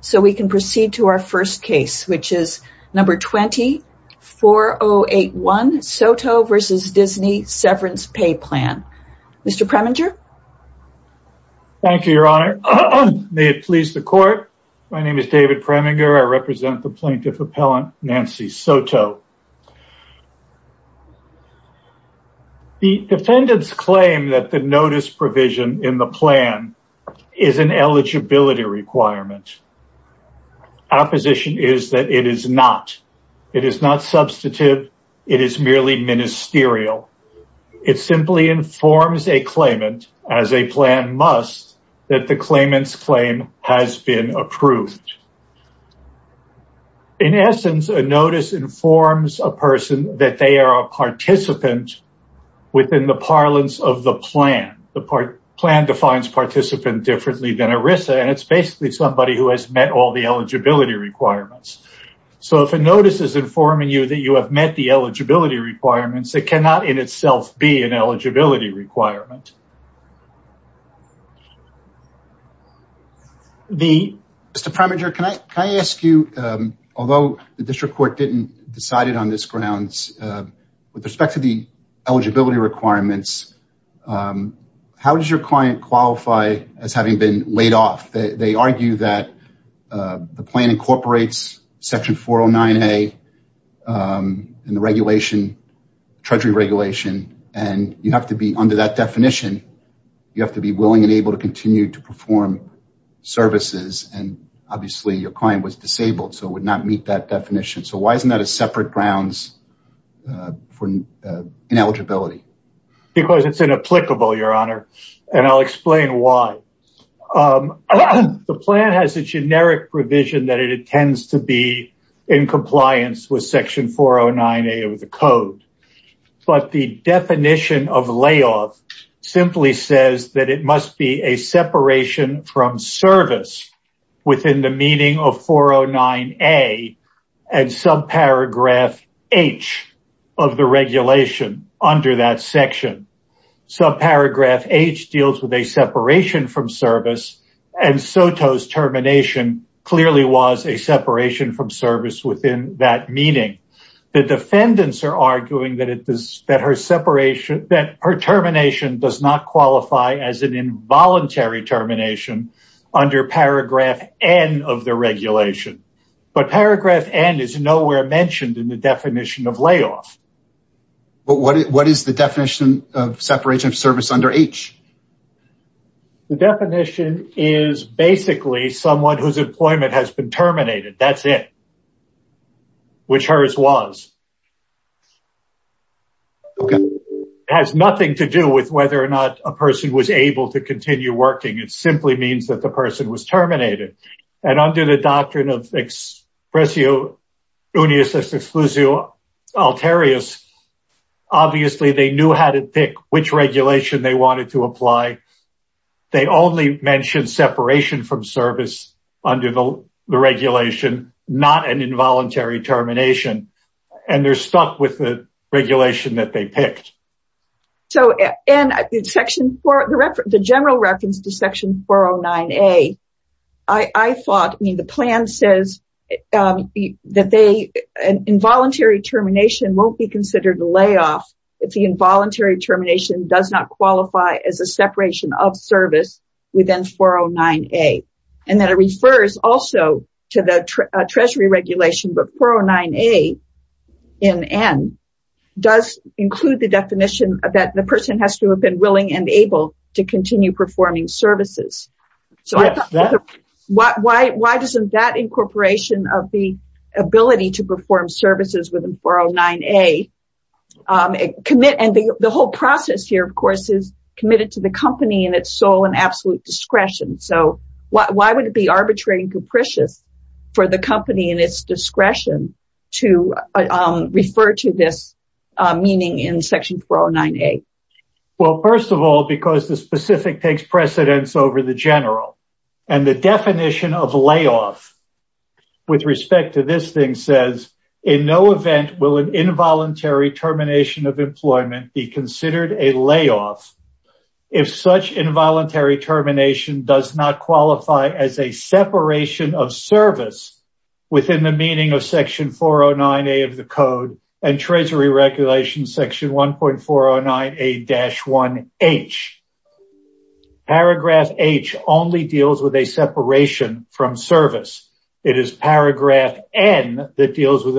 So we can proceed to our first case, which is number 20-4081, Soto v. Disney Severance Pay Plan. Mr. Preminger? Thank you, Your Honor. May it please the Court? My name is David Preminger. I represent the Plaintiff Appellant, Nancy Soto. The defendants claim that the notice provision in the plan is an eligibility requirement. Our position is that it is not. It is not substantive. It is merely ministerial. It simply informs a claimant, as a plan must, that the claimant's claim has been approved. In essence, a notice informs a person that they are a participant within the parlance of the plan. The plan defines participant differently than ERISA, and it's basically somebody who has met all the eligibility requirements. So if a notice is informing you that you have met the eligibility requirements, it cannot in itself be an eligibility requirement. Mr. Preminger, can I ask you, although the District Court didn't decide it on this grounds, with respect to the eligibility requirements, how does your client qualify as having been laid off? They argue that the plan incorporates Section 409A in the regulation, Treasury regulation, and you have to be under that definition. You have to be willing and able to continue to perform services, and obviously your client was disabled, so it would not meet that definition. So why isn't that a separate grounds for ineligibility? Because it's inapplicable, Your Honor, and I'll explain why. The plan has a generic provision that it intends to be in compliance with Section 409A of the code, but the definition of layoff simply says that it must be a separation from service within the meaning of 409A and subparagraph H of the regulation under that section. Subparagraph H deals with a separation from service, and SOTO's termination clearly was a separation from service within that meaning. The defendants are arguing that her termination does not qualify as an involuntary termination under Paragraph N of the regulation, but Paragraph N is nowhere mentioned in the definition of layoff. What is the definition of separation of service under H? The definition is basically someone whose employment has been terminated, that's it, which hers was. It has nothing to do with whether or not a person was able to continue working, it simply means that the person was terminated. And under the doctrine of expressio unius exclusio alterius, obviously they knew how to pick which regulation they wanted to apply. They only mentioned separation from service under the regulation, not an involuntary termination, and they're stuck with the regulation that they picked. In the general reference to Section 409A, I thought the plan says that an involuntary termination won't be considered a layoff if the involuntary termination does not qualify as a separation of service within 409A. And that it refers also to the Treasury regulation, but 409A in N does include the definition that the person has to have been willing and able to continue performing services. So I thought, why doesn't that incorporation of the ability to perform services within 409A, and the whole process here, of course, is committed to the company and its sole and absolute discretion. So why would it be arbitrary and capricious for the company and its discretion to refer to this meaning in Section 409A? Well, first of all, because the specific takes precedence over the general, and the definition of layoff with respect to this thing says, in no event will an involuntary termination of employment be considered a layoff if such involuntary termination does not qualify as a separation of service within the meaning of Section 409A of the code and Treasury regulation Section 1.409A-1H. Paragraph H only deals with a separation from service. It is paragraph N that deals with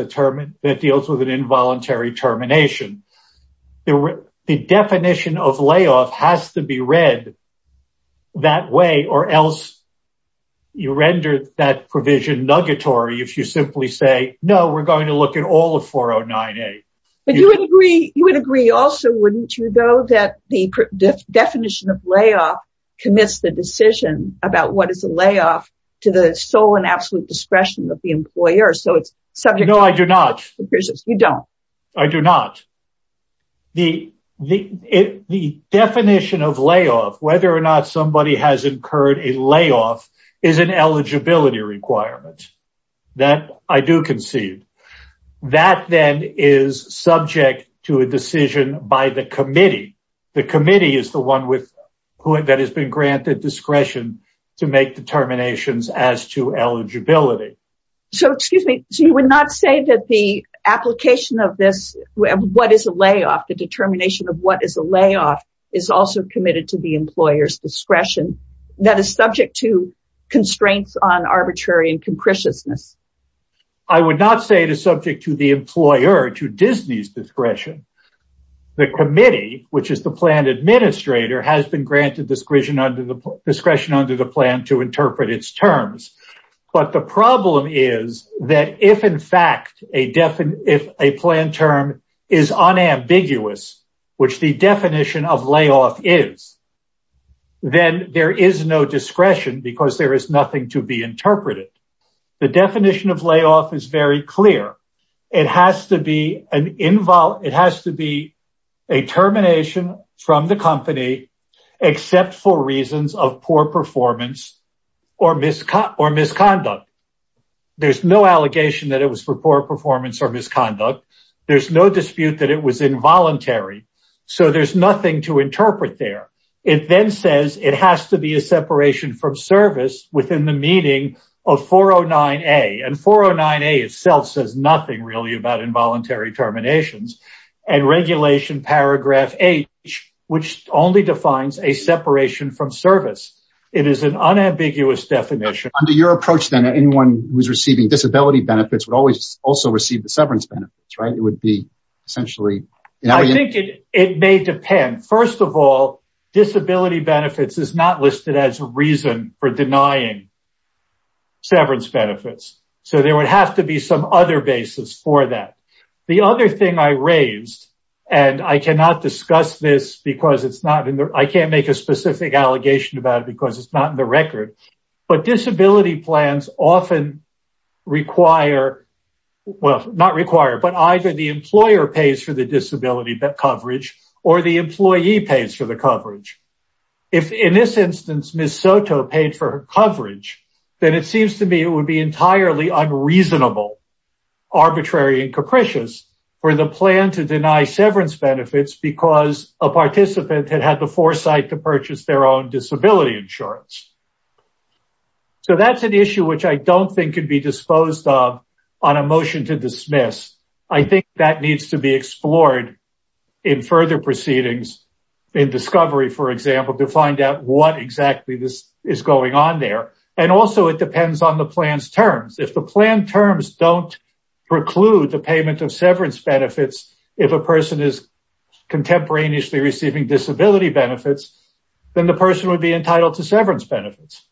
an involuntary termination. The definition of layoff has to be read that way or else you render that provision nuggetory if you simply say, no, we're going to look at all of 409A. You would agree also, wouldn't you, though, that the definition of layoff commits the decision about what is a layoff to the sole and absolute discretion of the employer? No, I do not. You don't? I do not. The definition of layoff, whether or not somebody has incurred a layoff, is an eligibility requirement that I do concede. That, then, is subject to a decision by the committee. The committee is the one that has been granted discretion to make determinations as to eligibility. So, excuse me, so you would not say that the application of this, what is a layoff, the determination of what is a layoff, is also committed to the employer's discretion that is subject to constraints on arbitrary and concretiousness? I would not say it is subject to the employer, to Disney's discretion. The committee, which is the plan administrator, has been granted discretion under the plan to interpret its terms. But the problem is that if, in fact, a plan term is unambiguous, which the definition of layoff is, then there is no discretion because there is nothing to be interpreted. The definition of layoff is very clear. It has to be a termination from the company except for reasons of poor performance or misconduct. There's no allegation that it was for poor performance or misconduct. There's no dispute that it was involuntary. So there's nothing to interpret there. It then says it has to be a separation from service within the meaning of 409A. And 409A itself says nothing really about involuntary terminations. And Regulation Paragraph H, which only defines a separation from service, it is an unambiguous definition. Under your approach, then, anyone who is receiving disability benefits would also receive the severance benefits, right? It would be essentially... I think it may depend. First of all, disability benefits is not listed as a reason for denying severance benefits. So there would have to be some other basis for that. The other thing I raised, and I cannot discuss this because it's not in the... I can't make a specific allegation about it because it's not in the record. But disability plans often require... Well, not require, but either the employer pays for the disability coverage or the employee pays for the coverage. If, in this instance, Ms. Soto paid for her coverage, then it seems to me it would be entirely unreasonable, arbitrary and capricious, for the plan to deny severance benefits because a participant had had the foresight to purchase their own disability insurance. So that's an issue which I don't think could be disposed of on a motion to dismiss. I think that needs to be explored in further proceedings, in discovery, for example, to find out what exactly this is going on there. And also, it depends on the plan's terms. If the plan terms don't preclude the payment of severance benefits, if a person is contemporaneously receiving disability benefits, then the person would be entitled to severance benefits.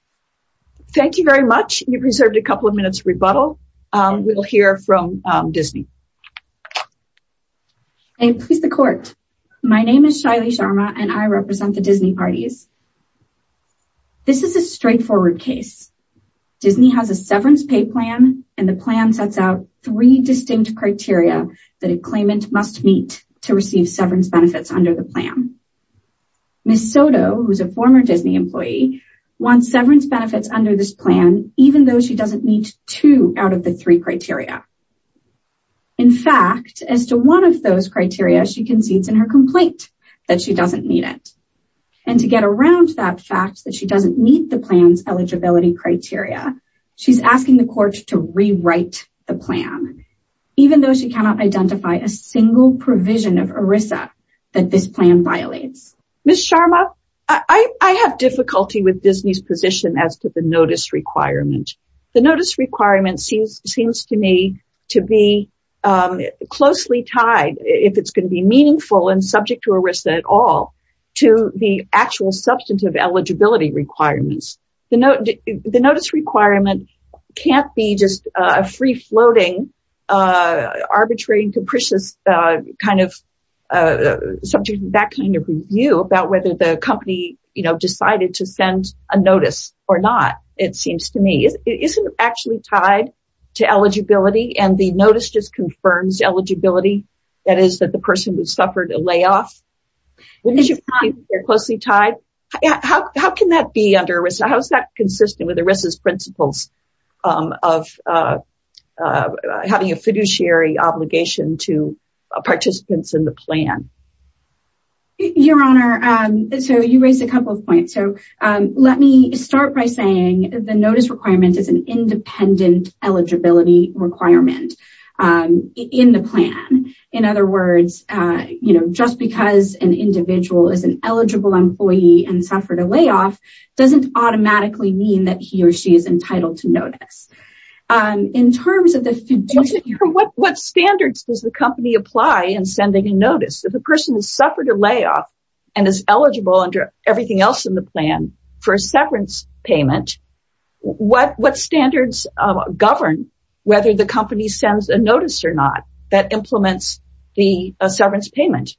Thank you very much. You've reserved a couple of minutes rebuttal. We will hear from Disney. I please the court. My name is Shaili Sharma and I represent the Disney parties. This is a straightforward case. Disney has a severance pay plan and the plan sets out three distinct criteria that a claimant must meet to receive severance benefits under the plan. Ms. Soto, who is a former Disney employee, wants severance benefits under this plan even though she doesn't meet two out of the three criteria. In fact, as to one of those criteria, she concedes in her complaint that she doesn't meet it. And to get around that fact that she doesn't meet the plan's eligibility criteria, she's asking the court to rewrite the plan, even though she cannot identify a single provision of ERISA that this plan violates. Ms. Sharma, I have difficulty with Disney's position as to the notice requirement. The notice requirement seems to me to be closely tied, if it's going to be meaningful and subject to ERISA at all, to the actual substantive eligibility requirements. The notice requirement can't be just a free-floating, arbitrary, and capricious kind of subject to that kind of review about whether the company decided to send a notice or not, it seems to me. Isn't it actually tied to eligibility and the notice just confirms eligibility, that is, that the person who suffered a layoff? How can that be under ERISA? How is that consistent with ERISA's principles of having a fiduciary obligation to participants in the plan? Your Honor, you raised a couple of points. Let me start by saying the notice requirement is an independent eligibility requirement in the plan. In other words, just because an individual is an eligible employee and suffered a layoff doesn't automatically mean that he or she is entitled to notice. In terms of the fiduciary... Your Honor, what standards does the company apply in sending a notice? If a person has suffered a layoff and is eligible under everything else in the plan for a severance payment, what standards govern whether the company sends a notice or not that implements the severance payment?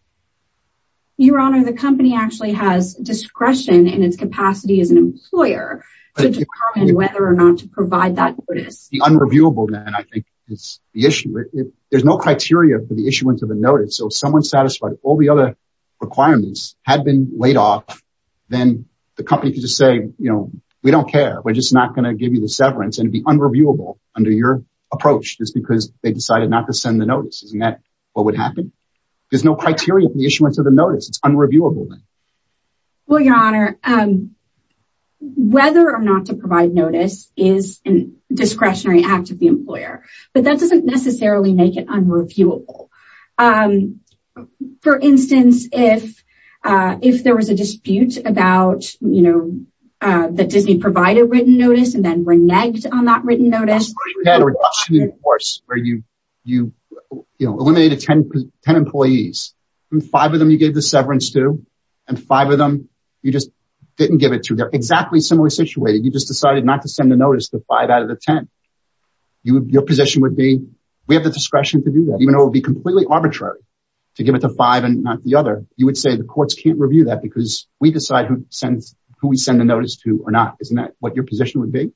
Your Honor, the company actually has discretion in its capacity as an employer to determine whether or not to provide that notice. The unreviewable then, I think, is the issue. There's no criteria for the issuance of a notice. So if someone satisfied all the other requirements had been laid off, then the company could just say, you know, we don't care. We're just not going to give you the severance and be unreviewable under your approach just because they decided not to send the notice. Isn't that what would happen? There's no criteria for the issuance of the notice. It's unreviewable. Well, Your Honor, whether or not to provide notice is a discretionary act of the employer. But that doesn't necessarily make it unreviewable. For instance, if there was a dispute about, you know, that Disney provided written notice and then reneged on that written notice. Where you, you know, eliminated 10 employees and five of them you gave the severance to and five of them you just didn't give it to. They're exactly similarly situated. You just decided not to send a notice to five out of the 10. Your position would be we have the discretion to do that, even though it would be completely arbitrary to give it to five and not the other. You would say the courts can't review that because we decide who sends who we send a notice to or not. Isn't that what your position would be?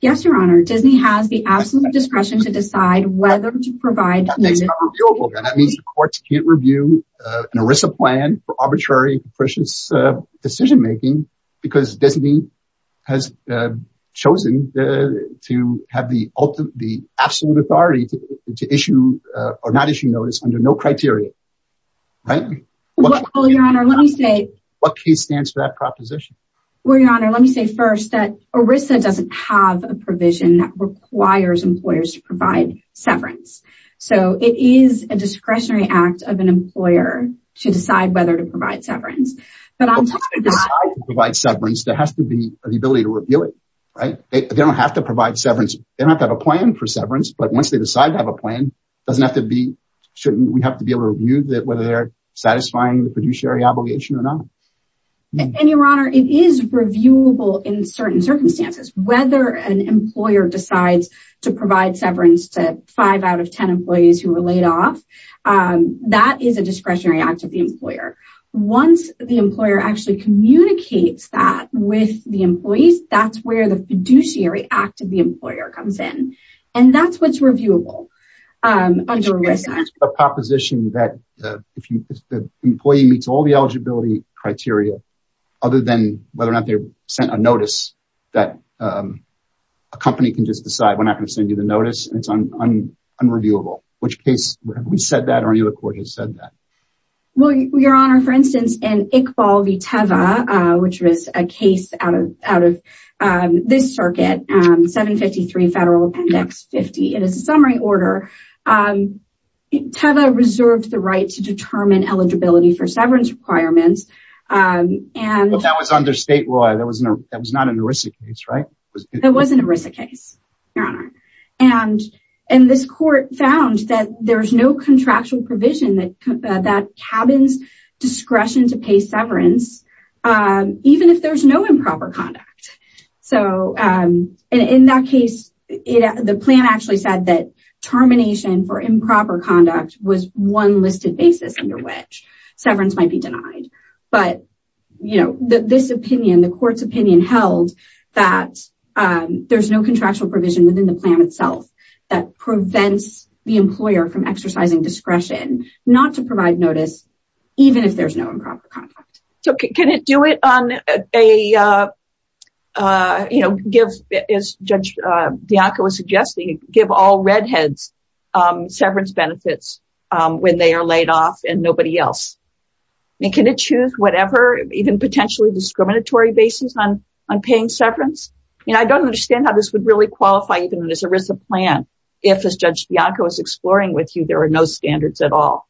Yes, Your Honor. Disney has the absolute discretion to decide whether to provide. That means the courts can't review an ERISA plan for arbitrary decision making because Disney has chosen to have the absolute authority to issue or not issue notice under no criteria. Right. Well, Your Honor, let me say what case stands for that proposition. Well, Your Honor, let me say first that ERISA doesn't have a provision that requires employers to provide severance. So it is a discretionary act of an employer to decide whether to provide severance. But I provide severance. There has to be the ability to review it. Right. They don't have to provide severance. They don't have a plan for severance. But once they decide to have a plan, doesn't have to be certain. We have to be able to review that whether they're satisfying the fiduciary obligation or not. And Your Honor, it is reviewable in certain circumstances, whether an employer decides to provide severance to five out of 10 employees who were laid off. That is a discretionary act of the employer. Once the employer actually communicates that with the employees, that's where the fiduciary act of the employer comes in. And that's what's reviewable under ERISA. The proposition that if the employee meets all the eligibility criteria, other than whether or not they sent a notice that a company can just decide, we're not going to send you the notice, it's unreviewable. Which case have we said that or any other court has said that? Well, Your Honor, for instance, in Iqbal v. Teva, which was a case out of this circuit, 753 Federal Appendix 50. It is a summary order. Teva reserved the right to determine eligibility for severance requirements. But that was under state law. That was not an ERISA case, right? It wasn't an ERISA case, Your Honor. And this court found that there's no contractual provision that cabins discretion to pay severance, even if there's no improper conduct. So in that case, the plan actually said that termination for improper conduct was one listed basis under which severance might be denied. But, you know, this opinion, the court's opinion held that there's no contractual provision within the plan itself that prevents the employer from exercising discretion not to provide notice, even if there's no improper conduct. So can it do it on a, you know, give, as Judge Bianco was suggesting, give all redheads severance benefits when they are laid off and nobody else? And can it choose whatever even potentially discriminatory basis on paying severance? You know, I don't understand how this would really qualify even in this ERISA plan if, as Judge Bianco is exploring with you, there are no standards at all.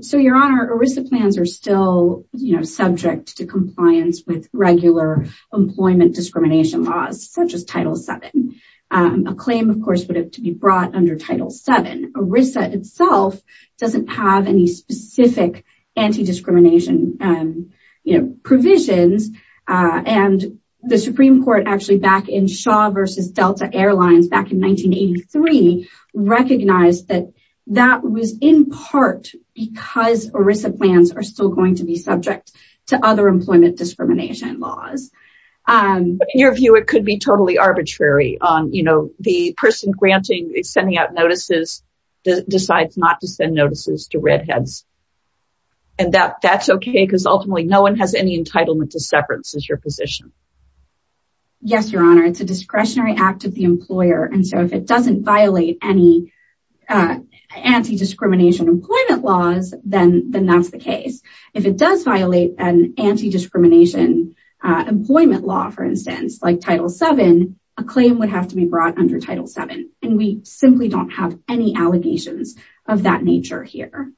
So, Your Honor, ERISA plans are still subject to compliance with regular employment discrimination laws, such as Title VII. A claim, of course, would have to be brought under Title VII. ERISA itself doesn't have any specific anti-discrimination provisions. And the Supreme Court actually back in Shaw versus Delta Airlines back in 1983 recognized that that was in part because ERISA plans are still going to be subject to other employment discrimination laws. In your view, it could be totally arbitrary on, you know, the person granting, sending out notices decides not to send notices to redheads. And that's OK because ultimately no one has any entitlement to severance is your position. Yes, Your Honor. It's a discretionary act of the employer. And so if it doesn't violate any anti-discrimination employment laws, then that's the case. If it does violate an anti-discrimination employment law, for instance, like Title VII, a claim would have to be brought under Title VII. And we simply don't have any allegations of that nature here.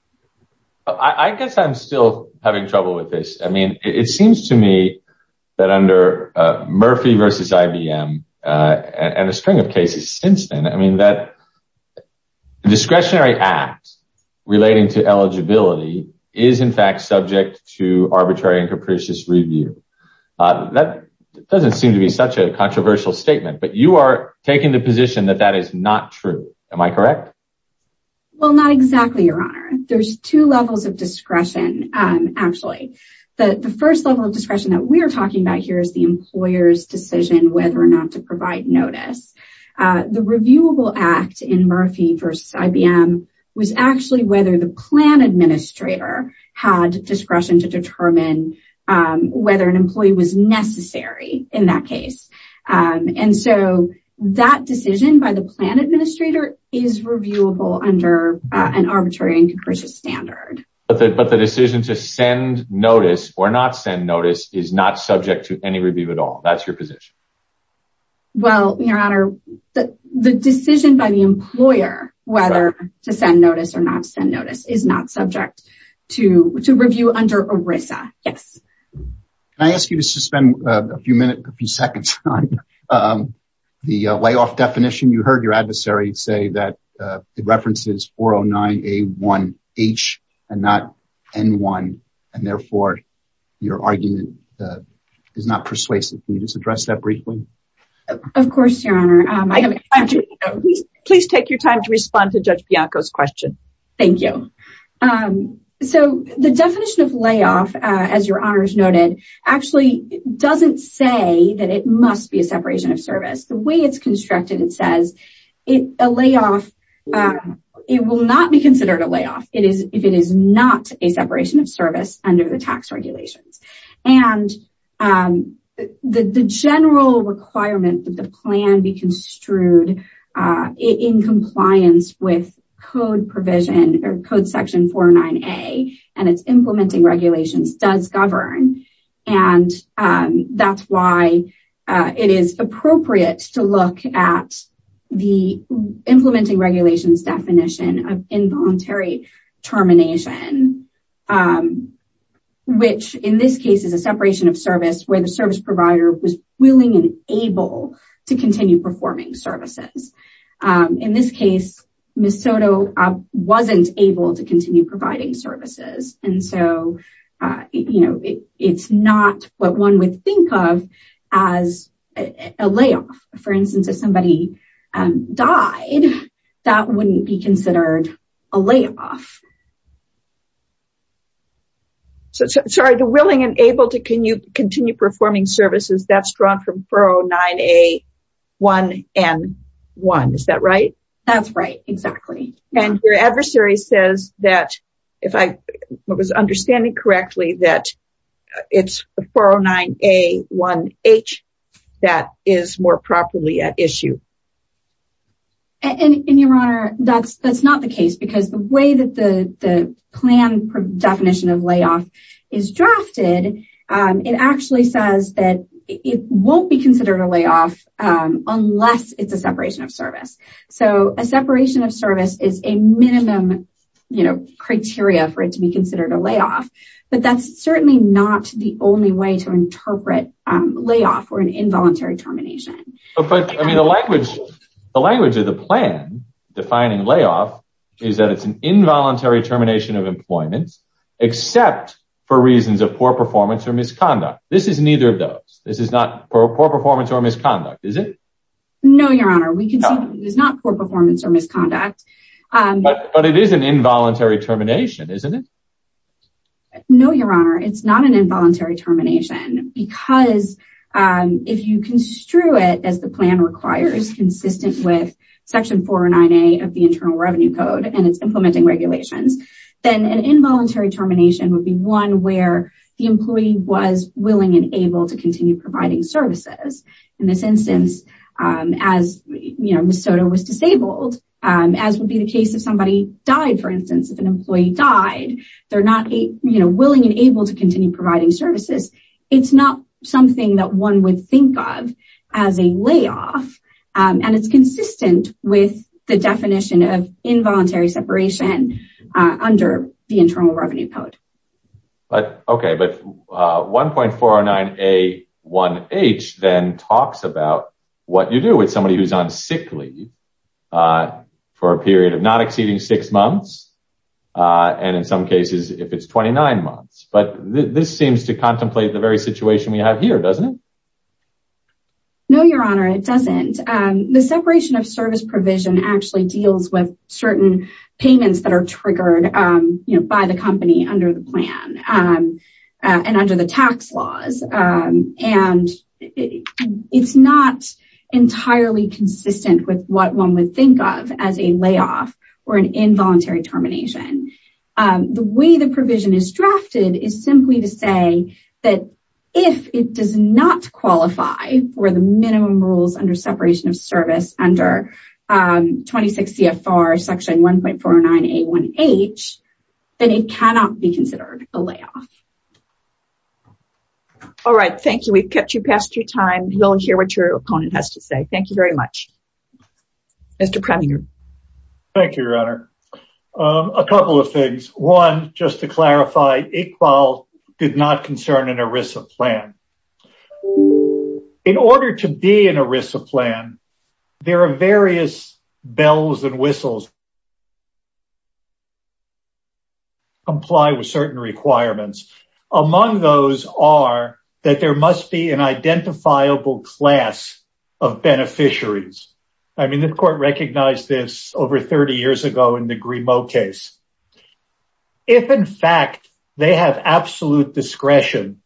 I guess I'm still having trouble with this. I mean, it seems to me that under Murphy versus IBM and a string of cases since then, I mean, that discretionary act relating to eligibility is in fact subject to arbitrary and capricious review. That doesn't seem to be such a controversial statement, but you are taking the position that that is not true. Am I correct? Well, not exactly, Your Honor. There's two levels of discretion. Actually, the first level of discretion that we're talking about here is the employer's decision whether or not to provide notice. The reviewable act in Murphy versus IBM was actually whether the plan administrator had discretion to determine whether an employee was necessary in that case. And so that decision by the plan administrator is reviewable under an arbitrary and capricious standard. But the decision to send notice or not send notice is not subject to any review at all. That's your position. Well, Your Honor, the decision by the employer whether to send notice or not send notice is not subject to review under ERISA. Yes. Can I ask you to suspend a few minutes, a few seconds on the layoff definition? You heard your adversary say that the reference is 409A1H and not N1, and therefore your argument is not persuasive. Can you just address that briefly? Of course, Your Honor. Please take your time to respond to Judge Bianco's question. Thank you. So the definition of layoff, as Your Honor has noted, actually doesn't say that it must be a separation of service. The way it's constructed, it says a layoff, it will not be considered a layoff if it is not a separation of service under the tax regulations. And the general requirement that the plan be construed in compliance with Code section 409A and its implementing regulations does govern. And that's why it is appropriate to look at the implementing regulations definition of involuntary termination, which in this case is a separation of service where the service provider was willing and able to continue performing services. In this case, Ms. Soto wasn't able to continue providing services. And so, you know, it's not what one would think of as a layoff. For instance, if somebody died, that wouldn't be considered a layoff. Sorry, the willing and able to continue performing services, that's drawn from 409A1N1. Is that right? That's right. Exactly. And your adversary says that, if I was understanding correctly, that it's 409A1H that is more properly at issue. And your Honor, that's not the case because the way that the plan definition of layoff is drafted, it actually says that it won't be considered a layoff unless it's a separation of service. So a separation of service is a minimum criteria for it to be considered a layoff. But that's certainly not the only way to interpret layoff or an involuntary termination. But the language of the plan defining layoff is that it's an involuntary termination of employment, except for reasons of poor performance or misconduct. This is neither of those. This is not poor performance or misconduct, is it? No, Your Honor. We can see that it's not poor performance or misconduct. But it is an involuntary termination, isn't it? No, Your Honor. It's not an involuntary termination because if you construe it as the plan requires, consistent with Section 409A of the Internal Revenue Code and its implementing regulations, then an involuntary termination would be one where the employee was willing and able to continue providing services. In this instance, as Ms. Soto was disabled, as would be the case if somebody died, for instance, if an employee died, they're not willing and able to continue providing services. It's not something that one would think of as a layoff. And it's consistent with the definition of involuntary separation under the Internal Revenue Code. But, okay, but 1.409A1H then talks about what you do with somebody who's on sick leave for a period of not exceeding six months, and in some cases, if it's 29 months. But this seems to contemplate the very situation we have here, doesn't it? No, Your Honor, it doesn't. The separation of service provision actually deals with certain payments that are triggered by the company under the plan and under the tax laws. And it's not entirely consistent with what one would think of as a layoff or an involuntary termination. The way the provision is drafted is simply to say that if it does not qualify for the minimum rules under separation of service under 26 CFR section 1.409A1H, then it cannot be considered a layoff. All right, thank you. We've kept you past your time. You'll hear what your opponent has to say. Thank you very much. Mr. Previnger. Thank you, Your Honor. A couple of things. One, just to clarify, Iqbal did not concern an ERISA plan. In order to be an ERISA plan, there are various bells and whistles that comply with certain requirements. Among those are that there must be an identifiable class of beneficiaries. I mean, the court recognized this over 30 years ago in the Grimaud case. If, in fact, they have absolute discretion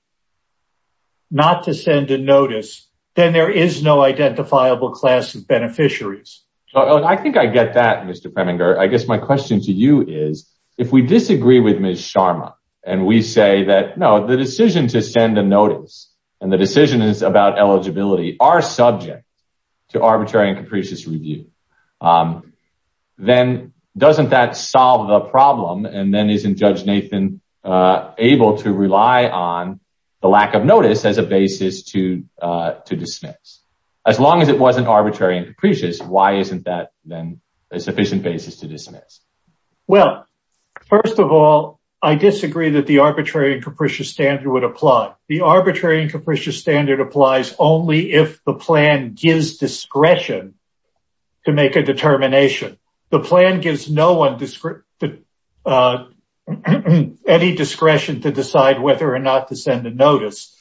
not to send a notice, then there is no identifiable class of beneficiaries. I think I get that, Mr. Preminger. I guess my question to you is, if we disagree with Ms. Sharma and we say that, no, the decision to send a notice and the decision is about eligibility are subject to arbitrary and capricious review, then doesn't that solve the problem? And then isn't Judge Nathan able to rely on the lack of notice as a basis to dismiss? As long as it wasn't arbitrary and capricious, why isn't that then a sufficient basis to dismiss? Well, first of all, I disagree that the arbitrary and capricious standard would apply. The arbitrary and capricious standard applies only if the plan gives discretion to make a determination. The plan gives no one any discretion to decide whether or not to send a notice.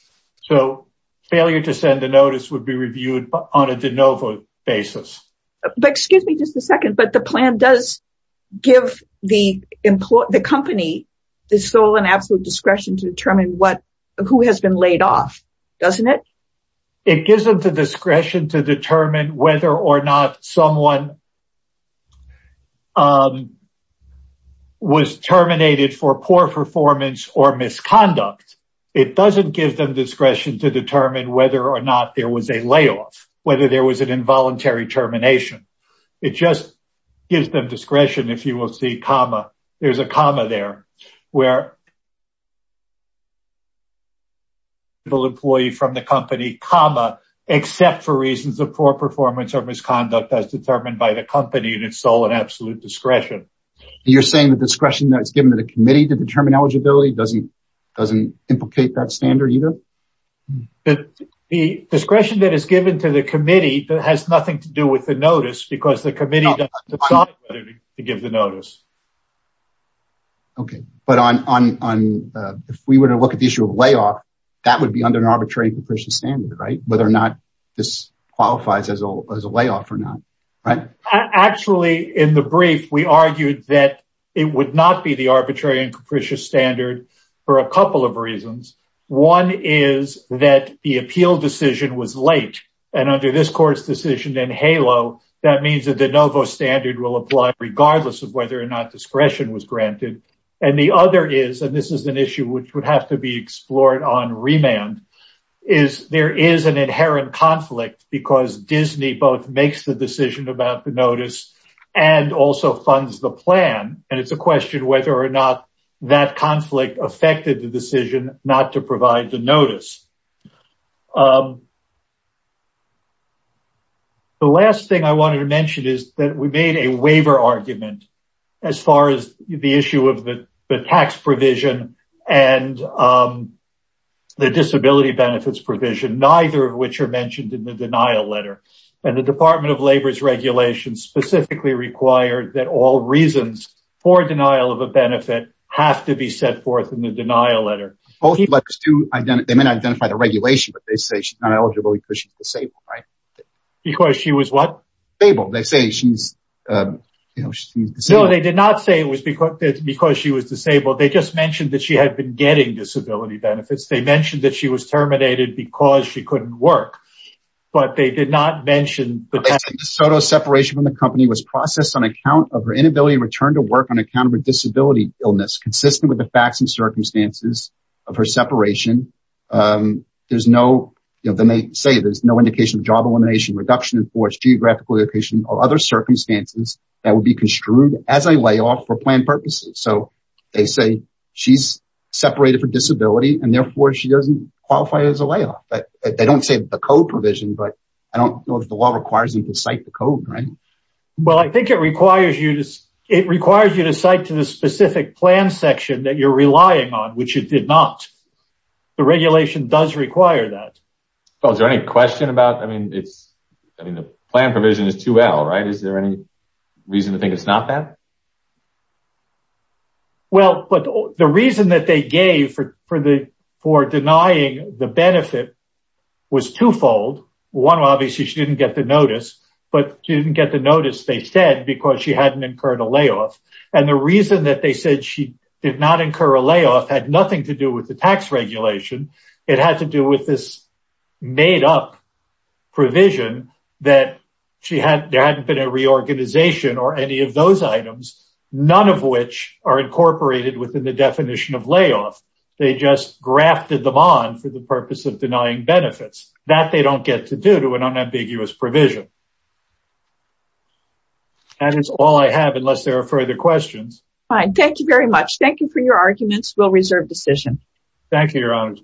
So, failure to send a notice would be reviewed on a de novo basis. Excuse me just a second, but the plan does give the company the sole and absolute discretion to determine who has been laid off, doesn't it? It gives them the discretion to determine whether or not someone was terminated for poor performance or misconduct. It doesn't give them discretion to determine whether or not there was a layoff, whether there was an involuntary termination. It just gives them discretion if you will see comma, there's a comma there, where the employee from the company, comma, except for reasons of poor performance or misconduct as determined by the company and its sole and absolute discretion. You're saying the discretion that's given to the committee to determine eligibility doesn't implicate that standard either? The discretion that is given to the committee has nothing to do with the notice because the committee decided to give the notice. Okay, but if we were to look at the issue of layoff, that would be under an arbitrary and capricious standard, right? Whether or not this qualifies as a layoff or not, right? Actually, in the brief, we argued that it would not be the arbitrary and capricious standard for a couple of reasons. One is that the appeal decision was late. And under this court's decision in HALO, that means that the novo standard will apply regardless of whether or not discretion was granted. And the other is, and this is an issue which would have to be explored on remand, is there is an inherent conflict because Disney both makes the decision about the notice and also funds the plan. And it's a question whether or not that conflict affected the decision not to provide the notice. The last thing I wanted to mention is that we made a waiver argument as far as the issue of the tax provision and the disability benefits provision, neither of which are mentioned in the denial letter. And the Department of Labor's regulation specifically required that all reasons for denial of a benefit have to be set forth in the denial letter. They may not identify the regulation, but they say she's not eligible because she's disabled, right? Because she was what? Disabled. They say she's disabled. No, they did not say it was because she was disabled. They just mentioned that she had been getting disability benefits. They mentioned that she was terminated because she couldn't work, but they did not mention that. Soto's separation from the company was processed on account of her inability to return to work on account of a disability illness consistent with the facts and circumstances of her separation. There's no, you know, then they say there's no indication of job elimination, reduction in force, geographical location or other circumstances that would be construed as a layoff for planned purposes. So they say she's separated for disability and therefore she doesn't qualify as a layoff. They don't say the code provision, but I don't know if the law requires you to cite the code, right? Well, I think it requires you to cite to the specific plan section that you're relying on, which it did not. The regulation does require that. Well, is there any question about, I mean, the plan provision is 2L, right? Is there any reason to think it's not that? Well, but the reason that they gave for denying the benefit was twofold. One, obviously she didn't get the notice, but she didn't get the notice they said because she hadn't incurred a layoff. And the reason that they said she did not incur a layoff had nothing to do with the tax regulation. It had to do with this made-up provision that there hadn't been a reorganization or any of those items, none of which are incorporated within the definition of layoff. They just grafted them on for the purpose of denying benefits. That they don't get to do to an unambiguous provision. That is all I have unless there are further questions. Fine. Thank you very much. Thank you for your arguments. We'll reserve decision. Thank you, your honor.